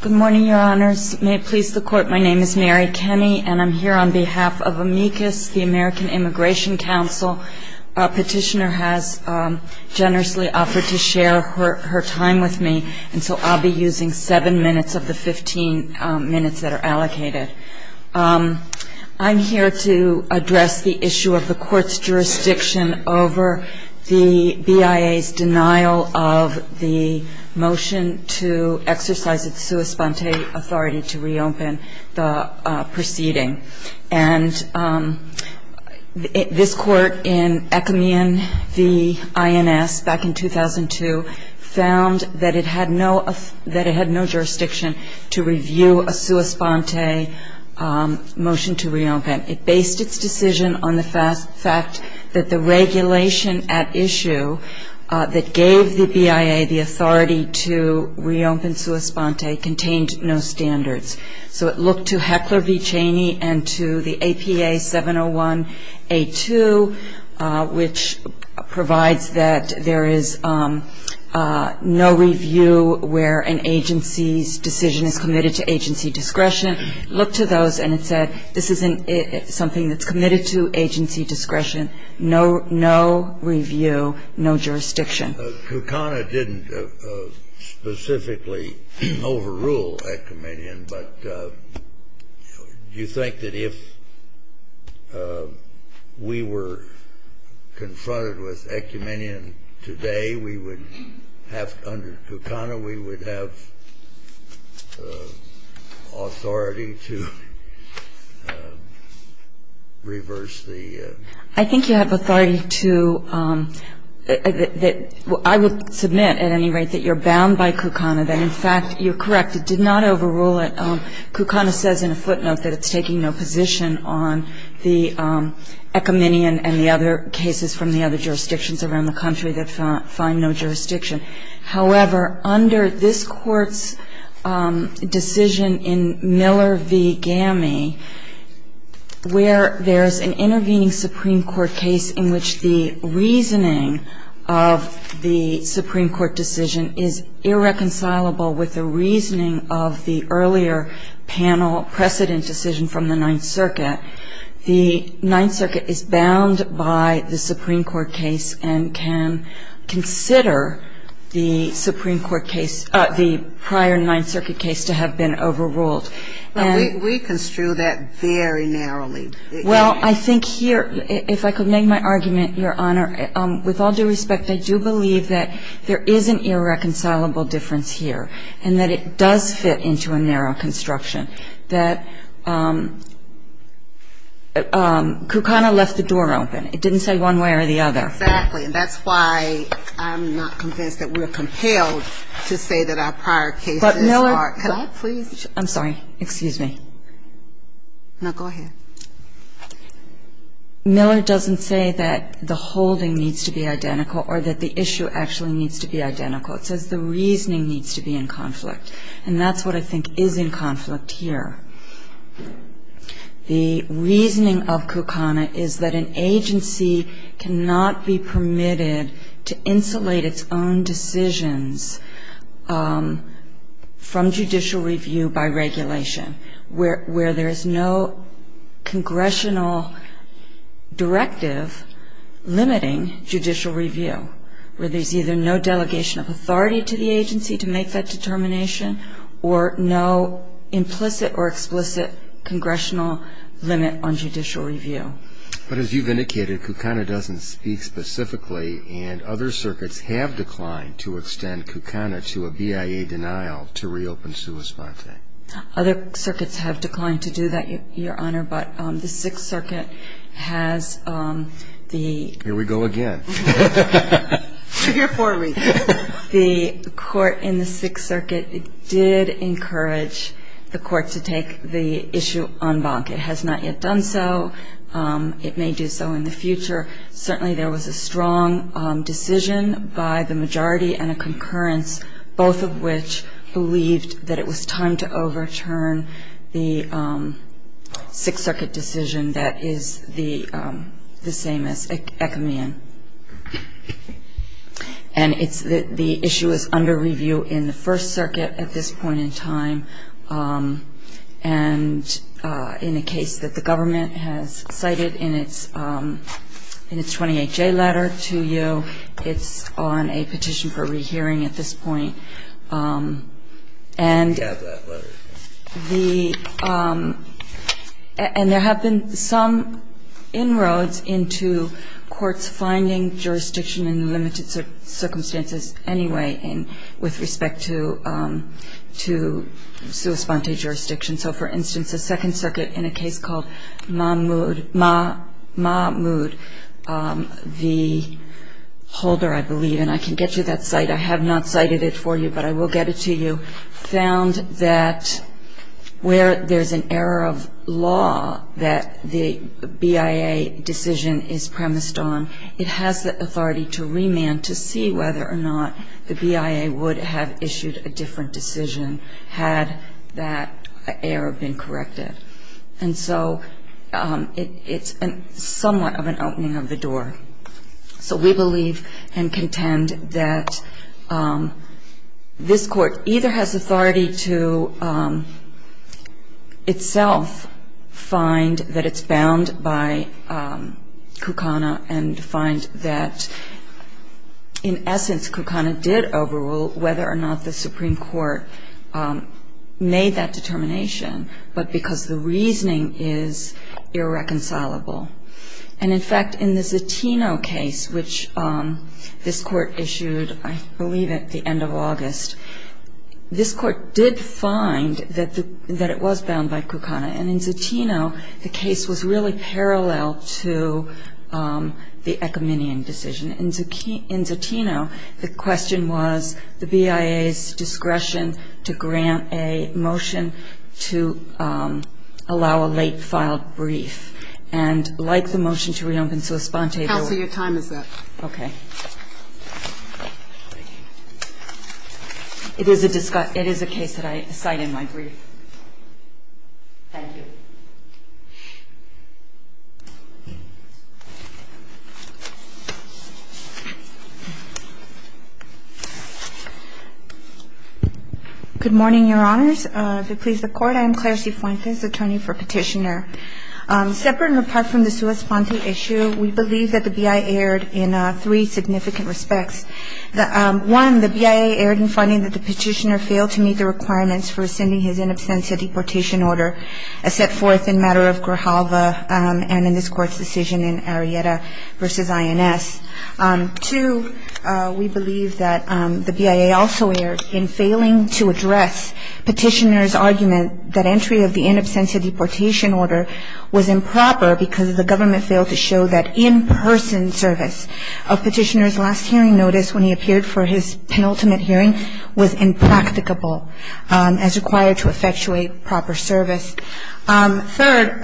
Good morning, your honors. May it please the court, my name is Mary Kenny, and I'm here on behalf of AMICUS, the American Immigration Council. A petitioner has generously offered to share her time with me, and so I'll be using seven minutes of the 15 minutes that are allocated. I'm here to address the issue of the court's jurisdiction over the BIA's denial of the motion to exercise its sua sponte authority to reopen the proceeding. And this court in Ekamian v. INS back in 2002 found that it had no jurisdiction to review a sua sponte motion to reopen. It based its decision on the fact that the regulation at issue that gave the BIA the authority to reopen sua sponte contained no standards. So it looked to Heckler v. Cheney and to the APA 701A2, which provides that there is no review where an agency's decision is committed to agency discretion. It looked to those and it said this isn't something that's committed to agency discretion, no review, no jurisdiction. Kukana didn't specifically overrule Ekamian, but do you think that if we were confronted with Ekamian today, we would have, under Kukana, we would have authority to reverse the? I think you have authority to, I would submit at any rate that you're bound by Kukana, that in fact you're correct, it did not overrule it. Kukana says in a footnote that it's taking no position on the Ekamian and the other cases from the other jurisdictions around the country that find no jurisdiction. However, under this Court's decision in Miller v. GAMI, where there's an intervening Supreme Court case in which the reasoning of the Supreme Court decision is irreconcilable with the reasoning of the earlier panel precedent decision from the Ninth Circuit, the Ninth Circuit is bound by the Supreme Court case and can consider the Supreme Court case, the prior Ninth Circuit case to have been overruled. We construe that very narrowly. Well, I think here, if I could make my argument, Your Honor, with all due respect, I do believe that there is an irreconcilable difference here and that it does fit into a narrow construction, that Kukana left the door open. It didn't say one way or the other. Exactly. And that's why I'm not convinced that we're compelled to say that our prior cases are. But, Miller, can I please? I'm sorry. Excuse me. No, go ahead. Miller doesn't say that the holding needs to be identical or that the issue actually needs to be identical. It says the reasoning needs to be in conflict. And that's what I think is in conflict here. The reasoning of Kukana is that an agency cannot be permitted to insulate its own decisions from judicial review by regulation, where there is no congressional directive limiting judicial review, where there's either no delegation of authority to the agency to make that determination or no implicit or explicit congressional limit on judicial review. But as you've indicated, Kukana doesn't speak specifically, and other circuits have declined to extend Kukana to a BIA denial to reopen Sua Sponte. Other circuits have declined to do that, Your Honor. But the Sixth Circuit has the ---- Here we go again. Figure for me. The court in the Sixth Circuit did encourage the court to take the issue en banc. It has not yet done so. It may do so in the future. Certainly there was a strong decision by the majority and a concurrence, both of which believed that it was time to overturn the Sixth Circuit decision that is the same as Ekamian. And the issue is under review in the First Circuit at this point in time. And in the case that the government has cited in its 28-J letter to you, it's on a petition for rehearing at this point. And the ---- And there have been some inroads into courts finding jurisdiction in limited circumstances anyway with respect to Sua Sponte jurisdiction. So, for instance, the Second Circuit in a case called Mahmood, the holder, I believe, and I can get you that cite. I have not cited it for you, but I will get it to you, found that where there's an error of law that the BIA decision is premised on, it has the authority to remand to see whether or not the BIA would have issued a different decision had that error been corrected. And so it's somewhat of an opening of the door. So we believe and contend that this Court either has authority to itself find that it's bound by Kukana and find that, in essence, Kukana did overrule whether or not the Supreme Court made that determination, because the reasoning is irreconcilable. And, in fact, in the Zatino case, which this Court issued, I believe, at the end of August, this Court did find that it was bound by Kukana. And in Zatino, the case was really parallel to the Ekiminian decision. In Zatino, the question was the BIA's discretion to grant a motion to allow a late-filed brief. And like the motion to reopen Suspante, there was... Counsel, your time is up. Okay. It is a case that I cite in my brief. Thank you. Good morning, Your Honors. If it pleases the Court, I am Claire C. Fuentes, attorney for Petitioner. Separate and apart from the Suspante issue, we believe that the BIA erred in three significant respects. One, the BIA erred in finding that the Petitioner failed to meet the requirements for sending his in absentia deportation order set forth in matter of Grijalva and in this Court's decision in Arrieta v. INS. Two, we believe that the BIA also erred in failing to address Petitioner's argument that entry of the in absentia deportation order was improper because the government failed to show that in-person service of Petitioner's last hearing notice when he appeared for his penultimate hearing was impracticable as required to effectuate proper service. Third,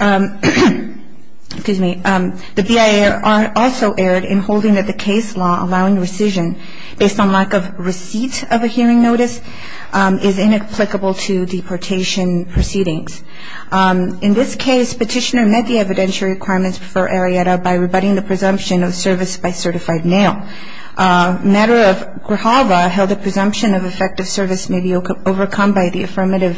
the BIA also erred in holding that the case law allowing rescission based on lack of receipts of a hearing notice is inapplicable to deportation proceedings. In this case, Petitioner met the evidentiary requirements for Arrieta by rebutting the presumption of service by certified mail. Matter of Grijalva held the presumption of effective service may be overcome by the affirmative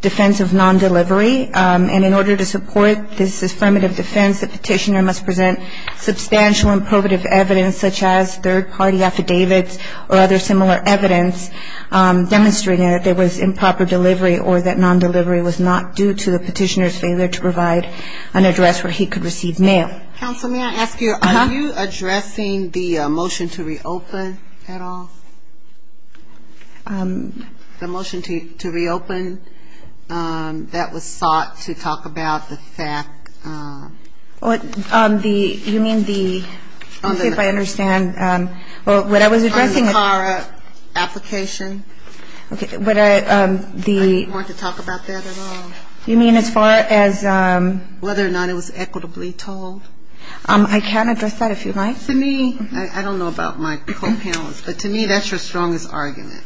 defense of non-delivery and in order to support this affirmative defense, the Petitioner must present substantial and probative evidence such as third party affidavits or other similar evidence demonstrating that there was improper delivery or that non-delivery was not due to the Petitioner's failure to provide an address where he could receive mail. Thank you. Thank you. Counsel, may I ask you, are you addressing the motion to reopen at all? The motion to reopen that was sought to talk about the fact. You mean the, let me see if I understand. Well, what I was addressing. On the CARA application. I didn't want to talk about that at all. You mean as far as. Whether or not it was equitably told. I can address that if you'd like. To me, I don't know about my co-panelists, but to me that's your strongest argument.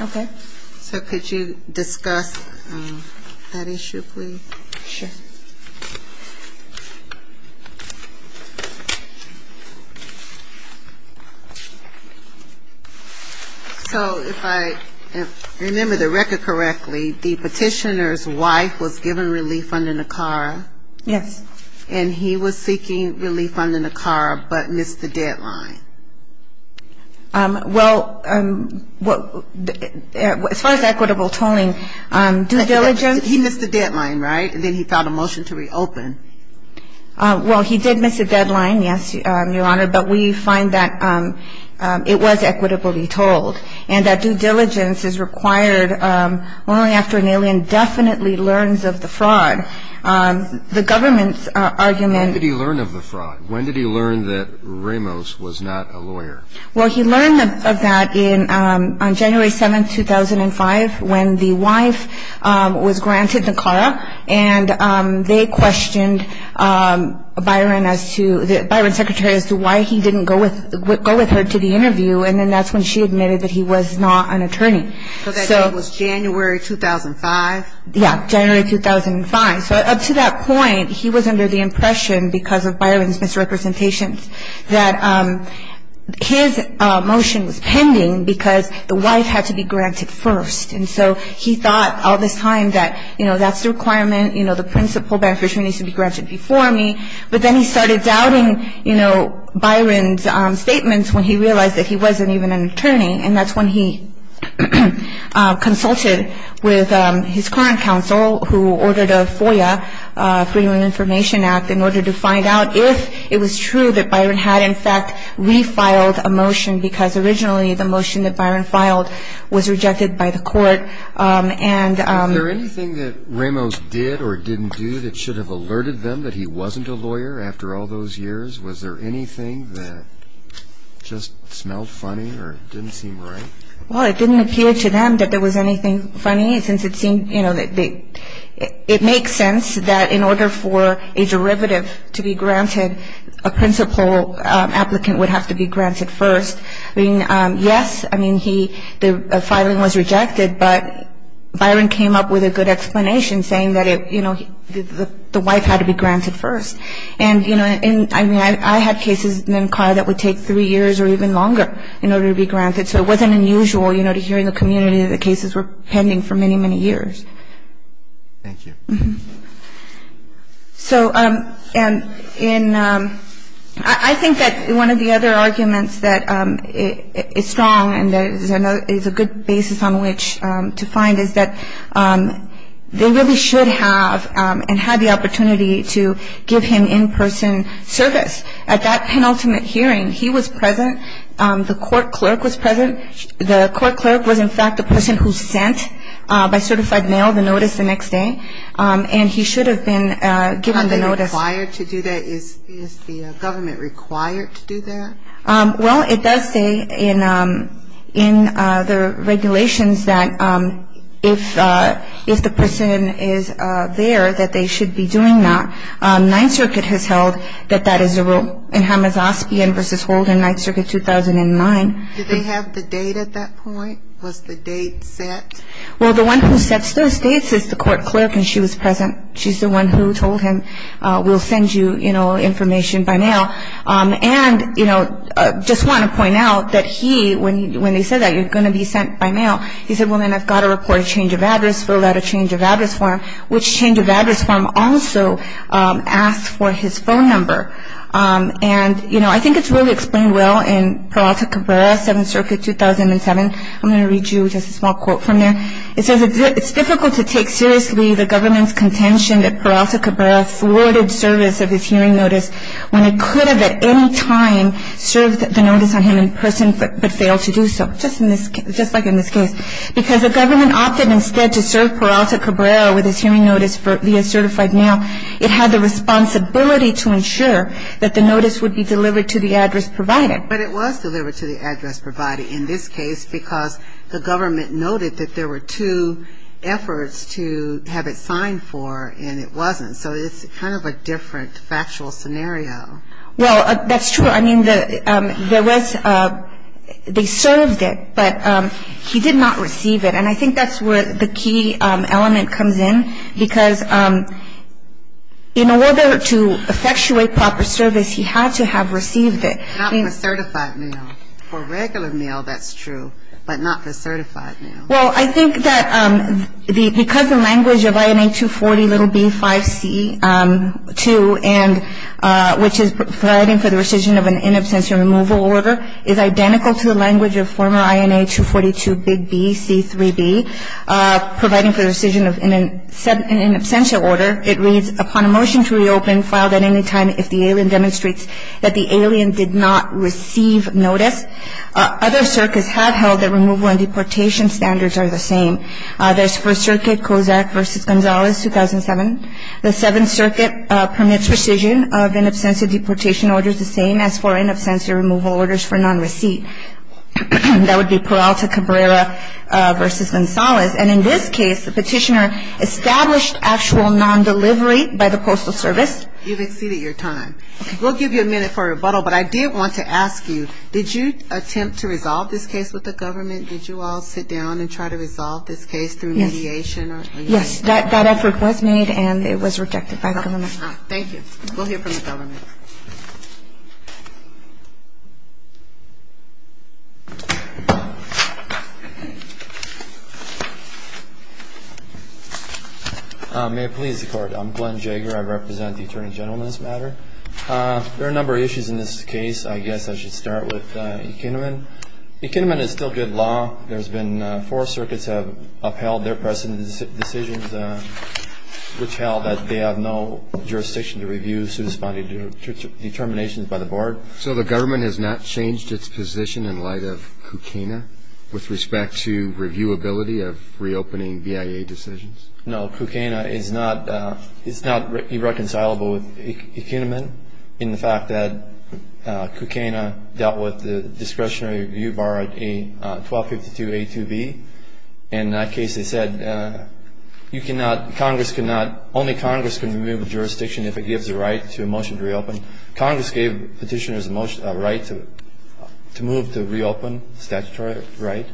Okay. So could you discuss that issue, please? Sure. So if I remember the record correctly, the Petitioner's wife was given relief under NACARA. Yes. And he was seeking relief under NACARA, but missed the deadline. Well, as far as equitable tolling, due diligence. He missed the deadline, right? And then he filed a motion to reopen. Well, he did miss a deadline, yes, Your Honor, but we find that it was equitably told. And that due diligence is required only after an alien definitely learns of the fraud. The government's argument. When did he learn of the fraud? When did he learn that Ramos was not a lawyer? Well, he learned of that on January 7, 2005, when the wife was granted NACARA. And they questioned Byron as to, Byron's secretary, as to why he didn't go with her to the interview. And then that's when she admitted that he was not an attorney. So that date was January 2005? Yes, January 2005. So up to that point, he was under the impression, because of Byron's misrepresentations, that his motion was pending because the wife had to be granted first. And so he thought all this time that, you know, that's the requirement, you know, the principal beneficiary needs to be granted before me. But then he started doubting, you know, Byron's statements when he realized that he wasn't even an attorney. And that's when he consulted with his current counsel, who ordered a FOIA, Freedom of Information Act, in order to find out if it was true that Byron had, in fact, refiled a motion, because originally the motion that Byron filed was rejected by the court. Was there anything that Ramos did or didn't do that should have alerted them that he wasn't a lawyer after all those years? Was there anything that just smelled funny or didn't seem right? Well, it didn't appear to them that there was anything funny, since it seemed, you know, it makes sense that in order for a derivative to be granted, a principal applicant would have to be granted first. I mean, yes, I mean, the filing was rejected, but Byron came up with a good explanation saying that, you know, the wife had to be granted first. And, you know, I mean, I had cases in NCAR that would take three years or even longer in order to be granted. So it wasn't unusual, you know, to hear in the community that the cases were pending for many, many years. Thank you. So in ‑‑ I think that one of the other arguments that is strong and is a good basis on which to find is that they really should have and had the opportunity to give him in‑person service. At that penultimate hearing, he was present. The court clerk was present. The court clerk was, in fact, the person who sent by certified mail the notice the next day, and he should have been given the notice. Are they required to do that? Is the government required to do that? Well, it does say in the regulations that if the person is there, that they should be doing that. Ninth Circuit has held that that is a rule in Hamazosbian v. Holden, Ninth Circuit 2009. Did they have the date at that point? Was the date set? Well, the one who sets those dates is the court clerk, and she was present. She's the one who told him, we'll send you, you know, information by mail. And, you know, just want to point out that he, when he said that, you're going to be sent by mail, he said, well, then I've got to report a change of address, fill out a change of address form, which change of address form also asked for his phone number. And, you know, I think it's really explained well in Peralta Cabrera, Seventh Circuit 2007. I'm going to read you just a small quote from there. It says, it's difficult to take seriously the government's contention that Peralta Cabrera forwarded service of his hearing notice when it could have at any time served the notice on him in person but failed to do so, just like in this case, because the government opted instead to serve Peralta Cabrera with his hearing notice via certified mail. It had the responsibility to ensure that the notice would be delivered to the address provided. But it was delivered to the address provided in this case because the government noted that there were two efforts to have it signed for, and it wasn't. So it's kind of a different factual scenario. Well, that's true. I mean, there was they served it, but he did not receive it. And I think that's where the key element comes in, because in order to effectuate proper service, he had to have received it. Not the certified mail. For regular mail, that's true, but not the certified mail. Well, I think that because the language of INA 240 little B5C2, which is providing for the rescission of an in absentia removal order, is identical to the language of former INA 242 big B C3B providing for the rescission of an in absentia order, it reads, upon a motion to reopen filed at any time if the alien demonstrates that the alien did not receive notice, other circuits have held that removal and deportation standards are the same. There's First Circuit, Kozak v. Gonzalez, 2007. The Seventh Circuit permits rescission of in absentia deportation orders the same as for in absentia removal orders for non-receipt. That would be Peralta Cabrera v. Gonzalez. And in this case, the petitioner established actual non-delivery by the Postal Service. You've exceeded your time. We'll give you a minute for rebuttal, but I did want to ask you, did you attempt to resolve this case with the government? Did you all sit down and try to resolve this case through mediation? Yes, that effort was made and it was rejected by the government. Thank you. We'll hear from the government. May it please the Court. I'm Glenn Jaeger. I represent the Attorney General in this matter. There are a number of issues in this case. I guess I should start with Ekeneman. Ekeneman is still good law. Four circuits have upheld their precedent decisions, which held that they have no jurisdiction to review suit-responding determinations by the board. So the government has not changed its position in light of Kukena with respect to reviewability of reopening BIA decisions? No, Kukena is not irreconcilable with Ekeneman. In the fact that Kukena dealt with the discretionary review, borrowed a 1252A2B, in that case they said you cannot, Congress cannot, only Congress can remove a jurisdiction if it gives a right to a motion to reopen. Congress gave petitioners a right to move to reopen statutory right,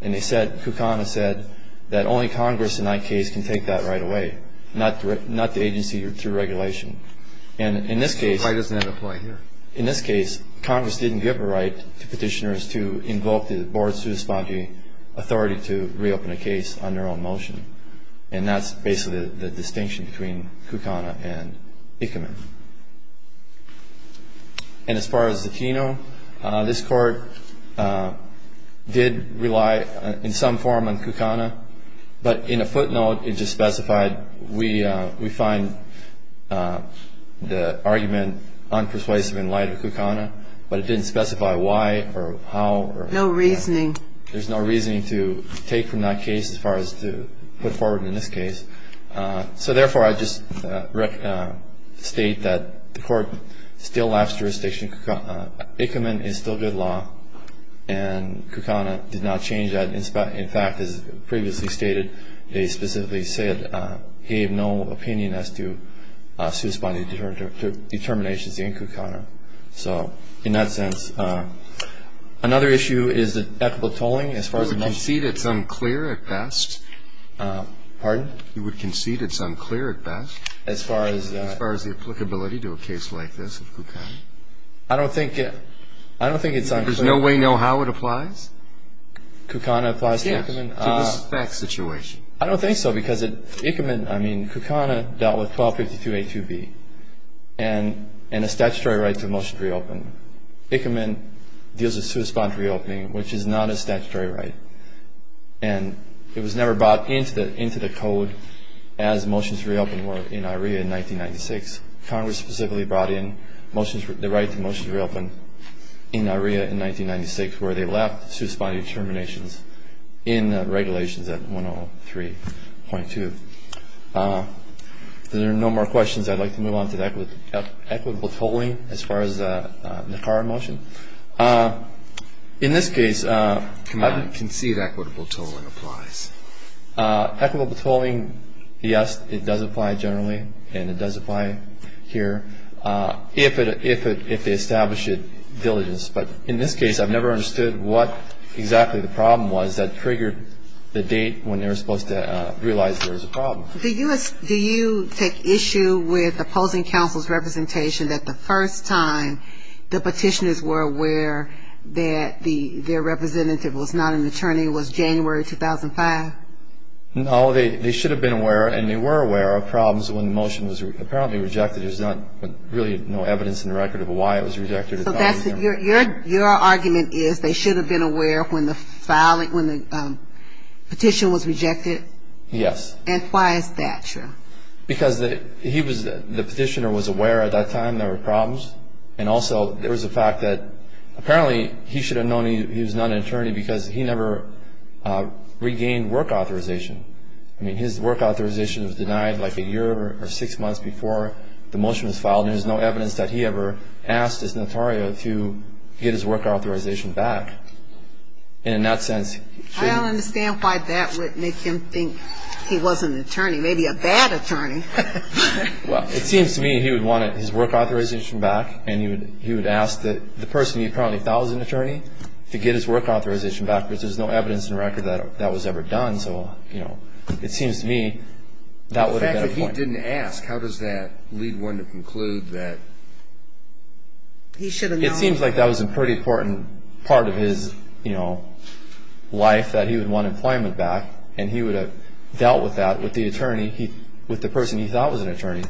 and they said, Kukena said, that only Congress in that case can take that right away, not the agency through regulation. Why doesn't that apply here? In this case, Congress didn't give a right to petitioners to invoke the board's suit-responding authority to reopen a case on their own motion. And that's basically the distinction between Kukena and Ekeneman. And as far as Zatino, this Court did rely in some form on Kukena, but in a footnote it just specified we find the argument unpersuasive in light of Kukena, but it didn't specify why or how. No reasoning. There's no reasoning to take from that case as far as to put forward in this case. So therefore, I just state that the Court still lapsed jurisdiction. Ekeneman is still good law, and Kukena did not change that. In fact, as previously stated, they specifically said, gave no opinion as to suit-responding determinations in Kukena. So in that sense, another issue is the equitable tolling. You would concede it's unclear at best? Pardon? You would concede it's unclear at best as far as the applicability to a case like this of Kukena? I don't think it's unclear. There's no way to know how it applies? Kukena applies to Ekeman? Yes, to this fact situation. I don't think so, because Ekeman, I mean, Kukena dealt with 1252A2B and a statutory right to motion to reopen. Ekeman deals with suit-respond to reopening, which is not a statutory right, and it was never brought into the Code as motions to reopen were in IREA in 1996. Congress specifically brought in the right to motions to reopen in IREA in 1996 where they left suit-responding determinations in regulations at 103.2. If there are no more questions, I'd like to move on to equitable tolling as far as the NACARA motion. In this case, I would concede equitable tolling applies. Equitable tolling, yes, it does apply generally, and it does apply here if they establish it diligently. But in this case, I've never understood what exactly the problem was that triggered the date when they were supposed to realize there was a problem. Do you take issue with opposing counsel's representation that the first time the petitioners were aware that their representative was not an attorney was January 2005? No, they should have been aware, and they were aware of problems when the motion was apparently rejected. There's not really no evidence in the record of why it was rejected. So your argument is they should have been aware when the petition was rejected? Yes. And why is that true? Because the petitioner was aware at that time there were problems, and also there was a fact that apparently he should have known he was not an attorney because he never regained work authorization. I mean, his work authorization was denied like a year or six months before the motion was filed, and there's no evidence that he ever asked his notario to get his work authorization back. And in that sense, he... I don't understand why that would make him think he was an attorney, maybe a bad attorney. Well, it seems to me he would want his work authorization back, and he would ask the person he probably thought was an attorney to get his work authorization back because there's no evidence in the record that that was ever done. The fact that he didn't ask, how does that lead one to conclude that he should have known? It seems like that was a pretty important part of his life that he would want employment back, and he would have dealt with that with the person he thought was an attorney,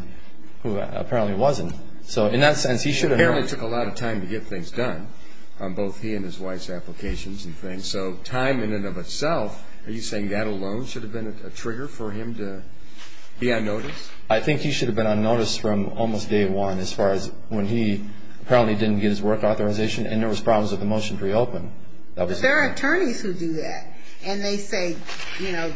who apparently wasn't. So in that sense, he should have known. Apparently it took a lot of time to get things done, both he and his wife's applications and things. So time in and of itself, are you saying that alone should have been a trigger for him to be unnoticed? I think he should have been unnoticed from almost day one as far as when he apparently didn't get his work authorization and there was problems with the motion to reopen. But there are attorneys who do that, and they say, you know,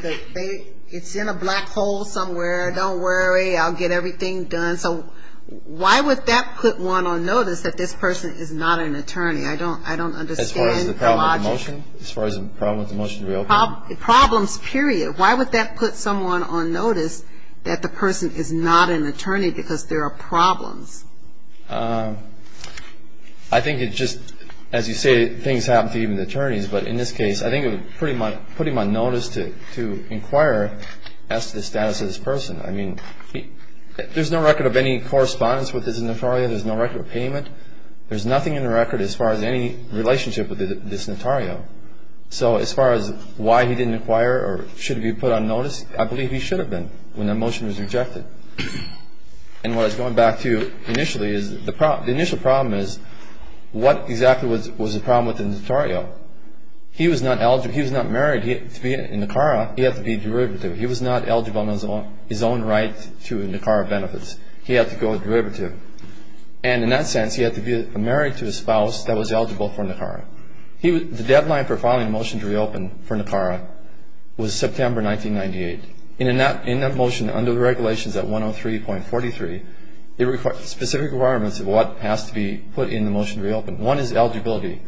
it's in a black hole somewhere. Don't worry, I'll get everything done. So why would that put one on notice that this person is not an attorney? I don't understand the logic. As far as the problem with the motion? As far as the problem with the motion to reopen? Problems, period. Why would that put someone on notice that the person is not an attorney because there are problems? I think it's just, as you say, things happen to even attorneys. But in this case, I think it would put him on notice to inquire as to the status of this person. I mean, there's no record of any correspondence with this attorney. There's no record of payment. There's nothing in the record as far as any relationship with this notario. So as far as why he didn't inquire or should he be put on notice? I believe he should have been when that motion was rejected. And what I was going back to initially is the initial problem is what exactly was the problem with the notario? He was not eligible. He was not married to be in NACARA. He had to be derivative. He was not eligible on his own right to NACARA benefits. He had to go derivative. And in that sense, he had to be married to a spouse that was eligible for NACARA. The deadline for filing a motion to reopen for NACARA was September 1998. In that motion under the regulations at 103.43, there were specific requirements of what has to be put in the motion to reopen. One is eligibility.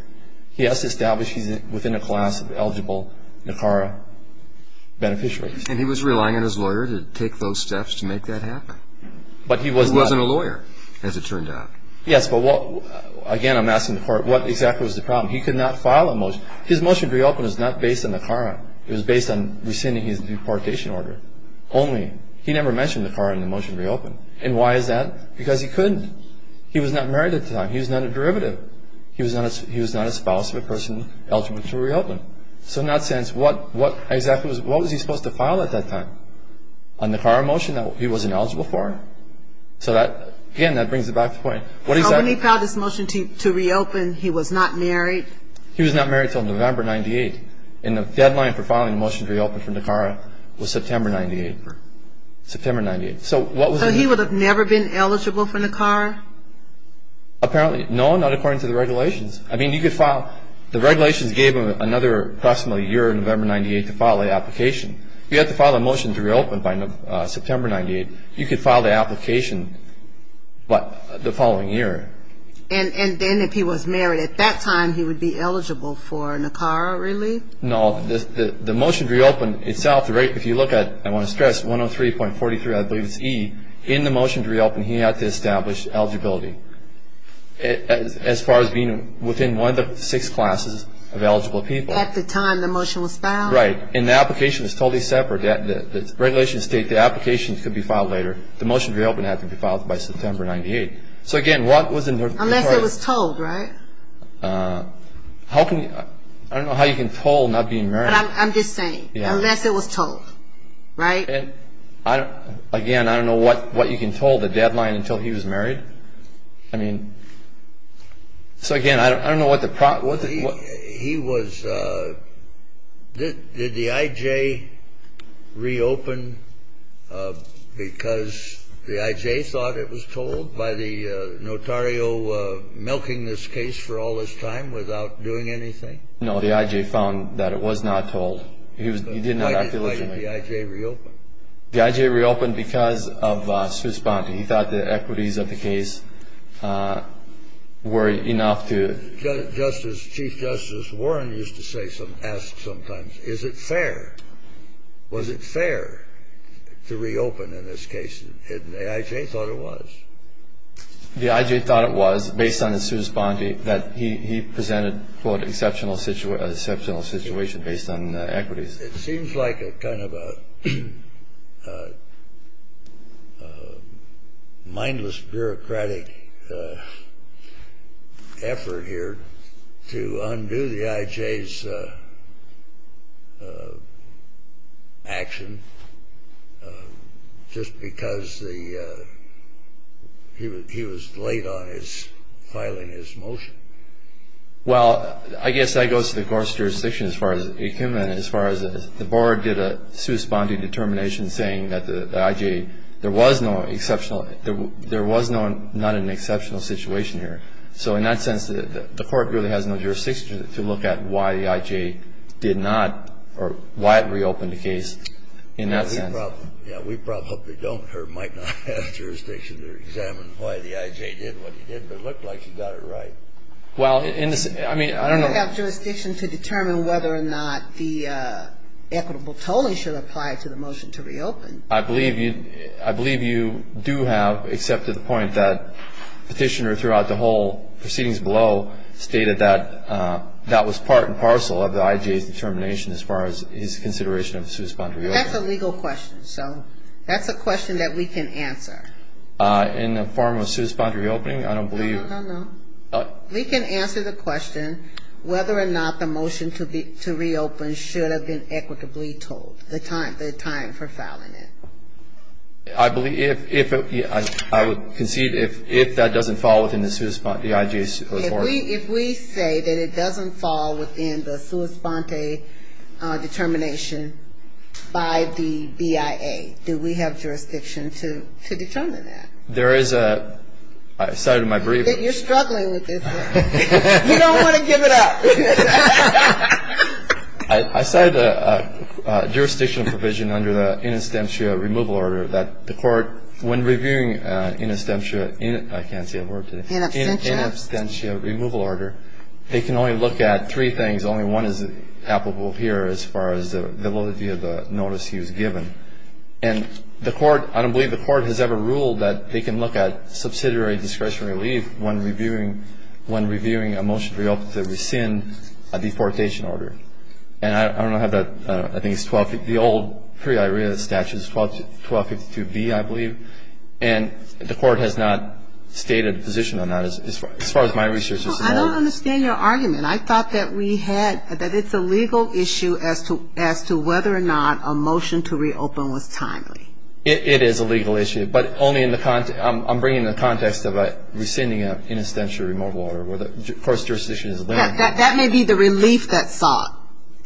He has to establish he's within a class of eligible NACARA beneficiaries. And he was relying on his lawyer to take those steps to make that happen? But he was not. He was relying on a lawyer, as it turned out. Yes, but again, I'm asking the court what exactly was the problem. He could not file a motion. His motion to reopen was not based on NACARA. It was based on rescinding his deportation order only. He never mentioned NACARA in the motion to reopen. And why is that? Because he couldn't. He was not married at the time. He was not a derivative. He was not a spouse of a person eligible to reopen. So in that sense, what exactly was he supposed to file at that time? A NACARA motion that he wasn't eligible for. So, again, that brings it back to the point. When he filed his motion to reopen, he was not married? He was not married until November 98. And the deadline for filing a motion to reopen from NACARA was September 98. September 98. So he would have never been eligible for NACARA? Apparently. No, not according to the regulations. I mean, you could file. The regulations gave him another approximately a year, November 98, to file an application. If you had to file a motion to reopen by September 98, you could file the application the following year. And then if he was married at that time, he would be eligible for NACARA, really? No. The motion to reopen itself, if you look at, I want to stress, 103.43, I believe it's E. In the motion to reopen, he had to establish eligibility as far as being within one of the six classes of eligible people. At the time the motion was filed? Right. And the application was totally separate. The regulations state the application could be filed later. The motion to reopen had to be filed by September 98. So, again, what was in NACARA? Unless it was told, right? How can you – I don't know how you can tell not being married. But I'm just saying, unless it was told, right? And, again, I don't know what you can tell, the deadline until he was married? I mean – so, again, I don't know what the – He was – did the I.J. reopen because the I.J. thought it was told by the notario milking this case for all this time without doing anything? No, the I.J. found that it was not told. He did not act diligently. Why did the I.J. reopen? The I.J. reopened because of Swiss bond. He thought the equities of the case were enough to – Chief Justice Warren used to ask sometimes, is it fair? Was it fair to reopen in this case? And the I.J. thought it was. The I.J. thought it was based on the Swiss bond that he presented, quote, exceptional situation based on equities. It seems like a kind of a mindless bureaucratic effort here to undo the I.J.'s action just because the – he was late on his – filing his motion. Well, I guess that goes to the court's jurisdiction as far as – as far as the board did a Swiss bonding determination saying that the I.J. There was no exceptional – there was no – not an exceptional situation here. So in that sense, the court really has no jurisdiction to look at why the I.J. did not – or why it reopened the case in that sense. We probably don't or might not have jurisdiction to examine why the I.J. did what he did, but it looked like he got it right. Well, in the – I mean, I don't know. We don't have jurisdiction to determine whether or not the equitable tolling should apply to the motion to reopen. I believe you – I believe you do have, except to the point that Petitioner throughout the whole proceedings below stated that that was part and parcel of the I.J.'s determination as far as his consideration of the Swiss bond reopen. That's a legal question, so that's a question that we can answer. In the form of Swiss bond reopening, I don't believe – No, no, no. We can answer the question whether or not the motion to reopen should have been equitably tolled, the time for filing it. I believe – if – I would concede if that doesn't fall within the Swiss bond – the I.J. by the BIA. Do we have jurisdiction to determine that? There is a – I cited my brief. You're struggling with this one. You don't want to give it up. I cited a jurisdictional provision under the in absentia removal order that the court, when reviewing in absentia – I can't say that word today. In absentia. In absentia removal order, they can only look at three things. Only one is applicable here as far as the validity of the notice he was given. And the court – I don't believe the court has ever ruled that they can look at subsidiary discretionary relief when reviewing a motion to reopen to rescind a deportation order. And I don't have that – I think it's 12 – the old pre-IRA statute is 1252B, I believe. And the court has not stated a position on that as far as my research is concerned. I don't understand your argument. I thought that we had – that it's a legal issue as to whether or not a motion to reopen was timely. It is a legal issue, but only in the – I'm bringing the context of rescinding an in absentia removal order where the court's jurisdiction is limited. That may be the relief that's sought.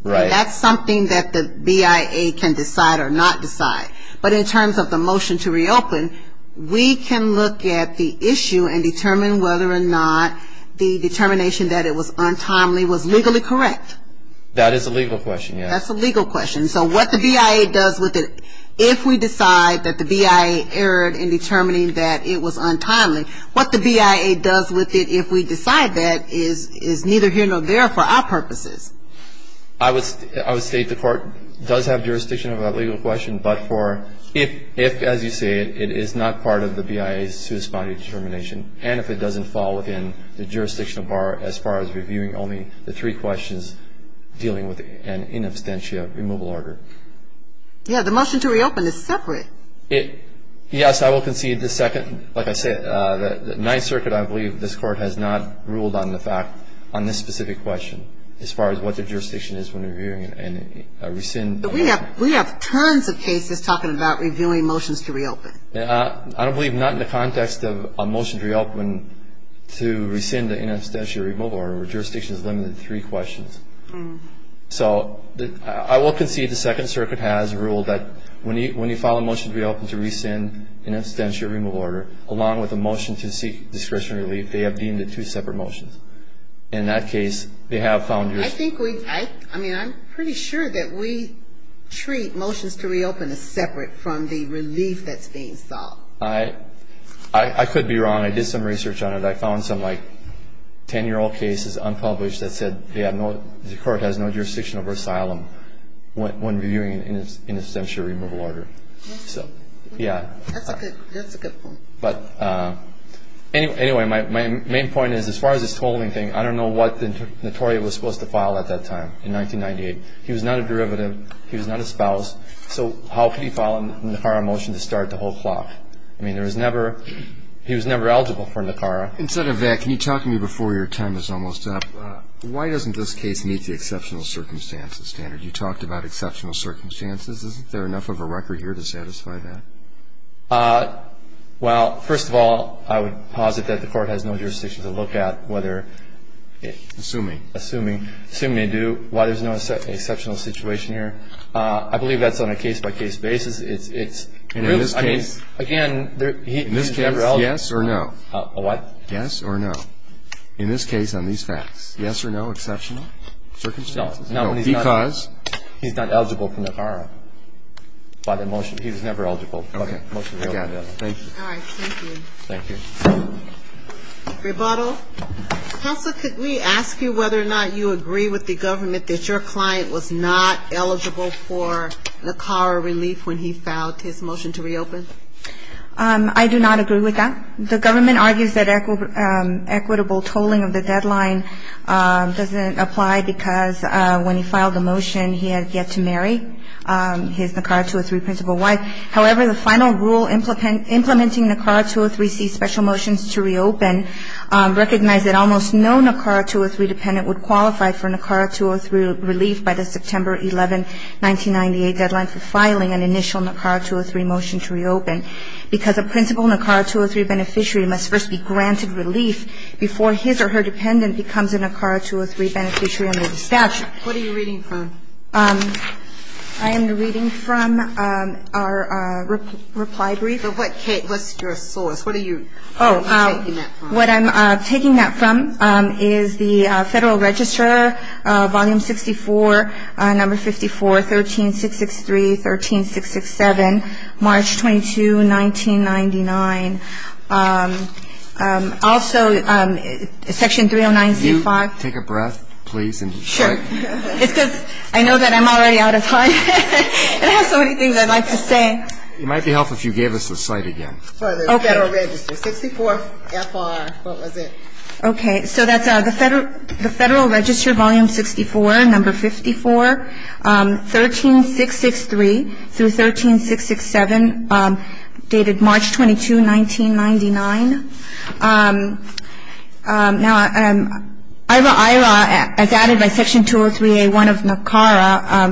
Right. That's something that the BIA can decide or not decide. But in terms of the motion to reopen, we can look at the issue and determine whether or not the determination that it was untimely was legally correct. That is a legal question, yes. That's a legal question. So what the BIA does with it if we decide that the BIA erred in determining that it was untimely, what the BIA does with it if we decide that is neither here nor there for our purposes. I would state the court does have jurisdiction of that legal question, but for if, as you say, it is not part of the BIA's suits body determination, and if it doesn't fall within the jurisdictional bar as far as reviewing only the three questions dealing with an in absentia removal order. Yeah. The motion to reopen is separate. Yes. I will concede the second. Like I said, the Ninth Circuit, I believe, this court has not ruled on the fact on this specific question as far as what the jurisdiction is when reviewing and rescind. But we have tons of cases talking about reviewing motions to reopen. Yeah. I believe not in the context of a motion to reopen to rescind an in absentia removal order where jurisdiction is limited to three questions. So I will concede the Second Circuit has ruled that when you file a motion to reopen to rescind an in absentia removal order along with a motion to seek discretionary relief, they have deemed it two separate motions. In that case, they have found your... I think we, I mean, I'm pretty sure that we treat motions to reopen as separate from the relief that's being solved. I could be wrong. I did some research on it. I found some, like, 10-year-old cases unpublished that said the court has no jurisdiction over asylum when reviewing an in absentia removal order. So, yeah. That's a good point. But anyway, my main point is as far as this tolling thing, I don't know what Notorio was supposed to file at that time in 1998. He was not a derivative. He was not a spouse. So how could he file a NACARA motion to start the whole clock? I mean, there was never, he was never eligible for NACARA. Instead of that, can you talk to me before your time is almost up? Why doesn't this case meet the exceptional circumstances standard? You talked about exceptional circumstances. Isn't there enough of a record here to satisfy that? Well, first of all, I would posit that the court has no jurisdiction to look at whether assuming, assuming they do, why there's no exceptional situation here. I believe that's on a case-by-case basis. It's really, I mean, again, he's never eligible. In this case, yes or no? What? Yes or no. In this case, on these facts, yes or no exceptional circumstances? No. Because? He's not eligible for NACARA. By the motion, he was never eligible. Okay. Thank you. All right. Thank you. Thank you. Rebuttal. Counsel, could we ask you whether or not you agree with the government that your client was not eligible for NACARA relief when he filed his motion to reopen? I do not agree with that. The government argues that equitable tolling of the deadline doesn't apply because when he filed the motion, he had yet to marry his NACARA 203 principal wife. However, the final rule implementing NACARA 203C special motions to reopen recognized that almost no NACARA 203 dependent would qualify for NACARA 203 relief by the September 11, 1998 deadline for filing an initial NACARA 203 motion to reopen because a principal NACARA 203 beneficiary must first be granted relief before his or her dependent becomes a NACARA 203 beneficiary under the statute. What are you reading from? I am reading from our reply brief. What's your source? What are you taking that from? What I'm taking that from is the Federal Register, Volume 64, Number 54, 13663, 13667, March 22, 1999. Also, Section 309C5. Can you take a breath, please? Sure. It's because I know that I'm already out of time. It has so many things I'd like to say. It might be helpful if you gave us the site again. For the Federal Register, 64FR, what was it? Okay. So that's the Federal Register, Volume 64, Number 54, 13663 through 13667, dated March 22, 1999. Now, IRA-IRA, as added by Section 203A1 of NACARA,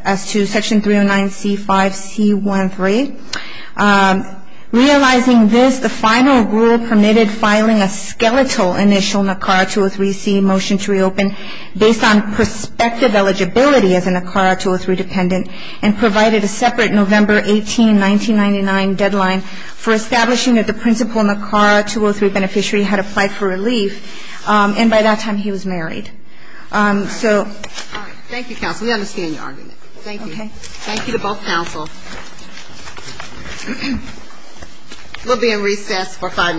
as to Section 309C5C13, realizing this, the final rule permitted filing a skeletal initial NACARA 203C motion to reopen based on prospective eligibility as a NACARA 203 dependent and provided a separate November 18, 1999, deadline for establishing that the principal NACARA 203 beneficiary had applied for relief. And by that time, he was married. All right. All right. Thank you, counsel. We understand your argument. Thank you. Okay. Thank you to both counsel. We'll be in recess for five minutes.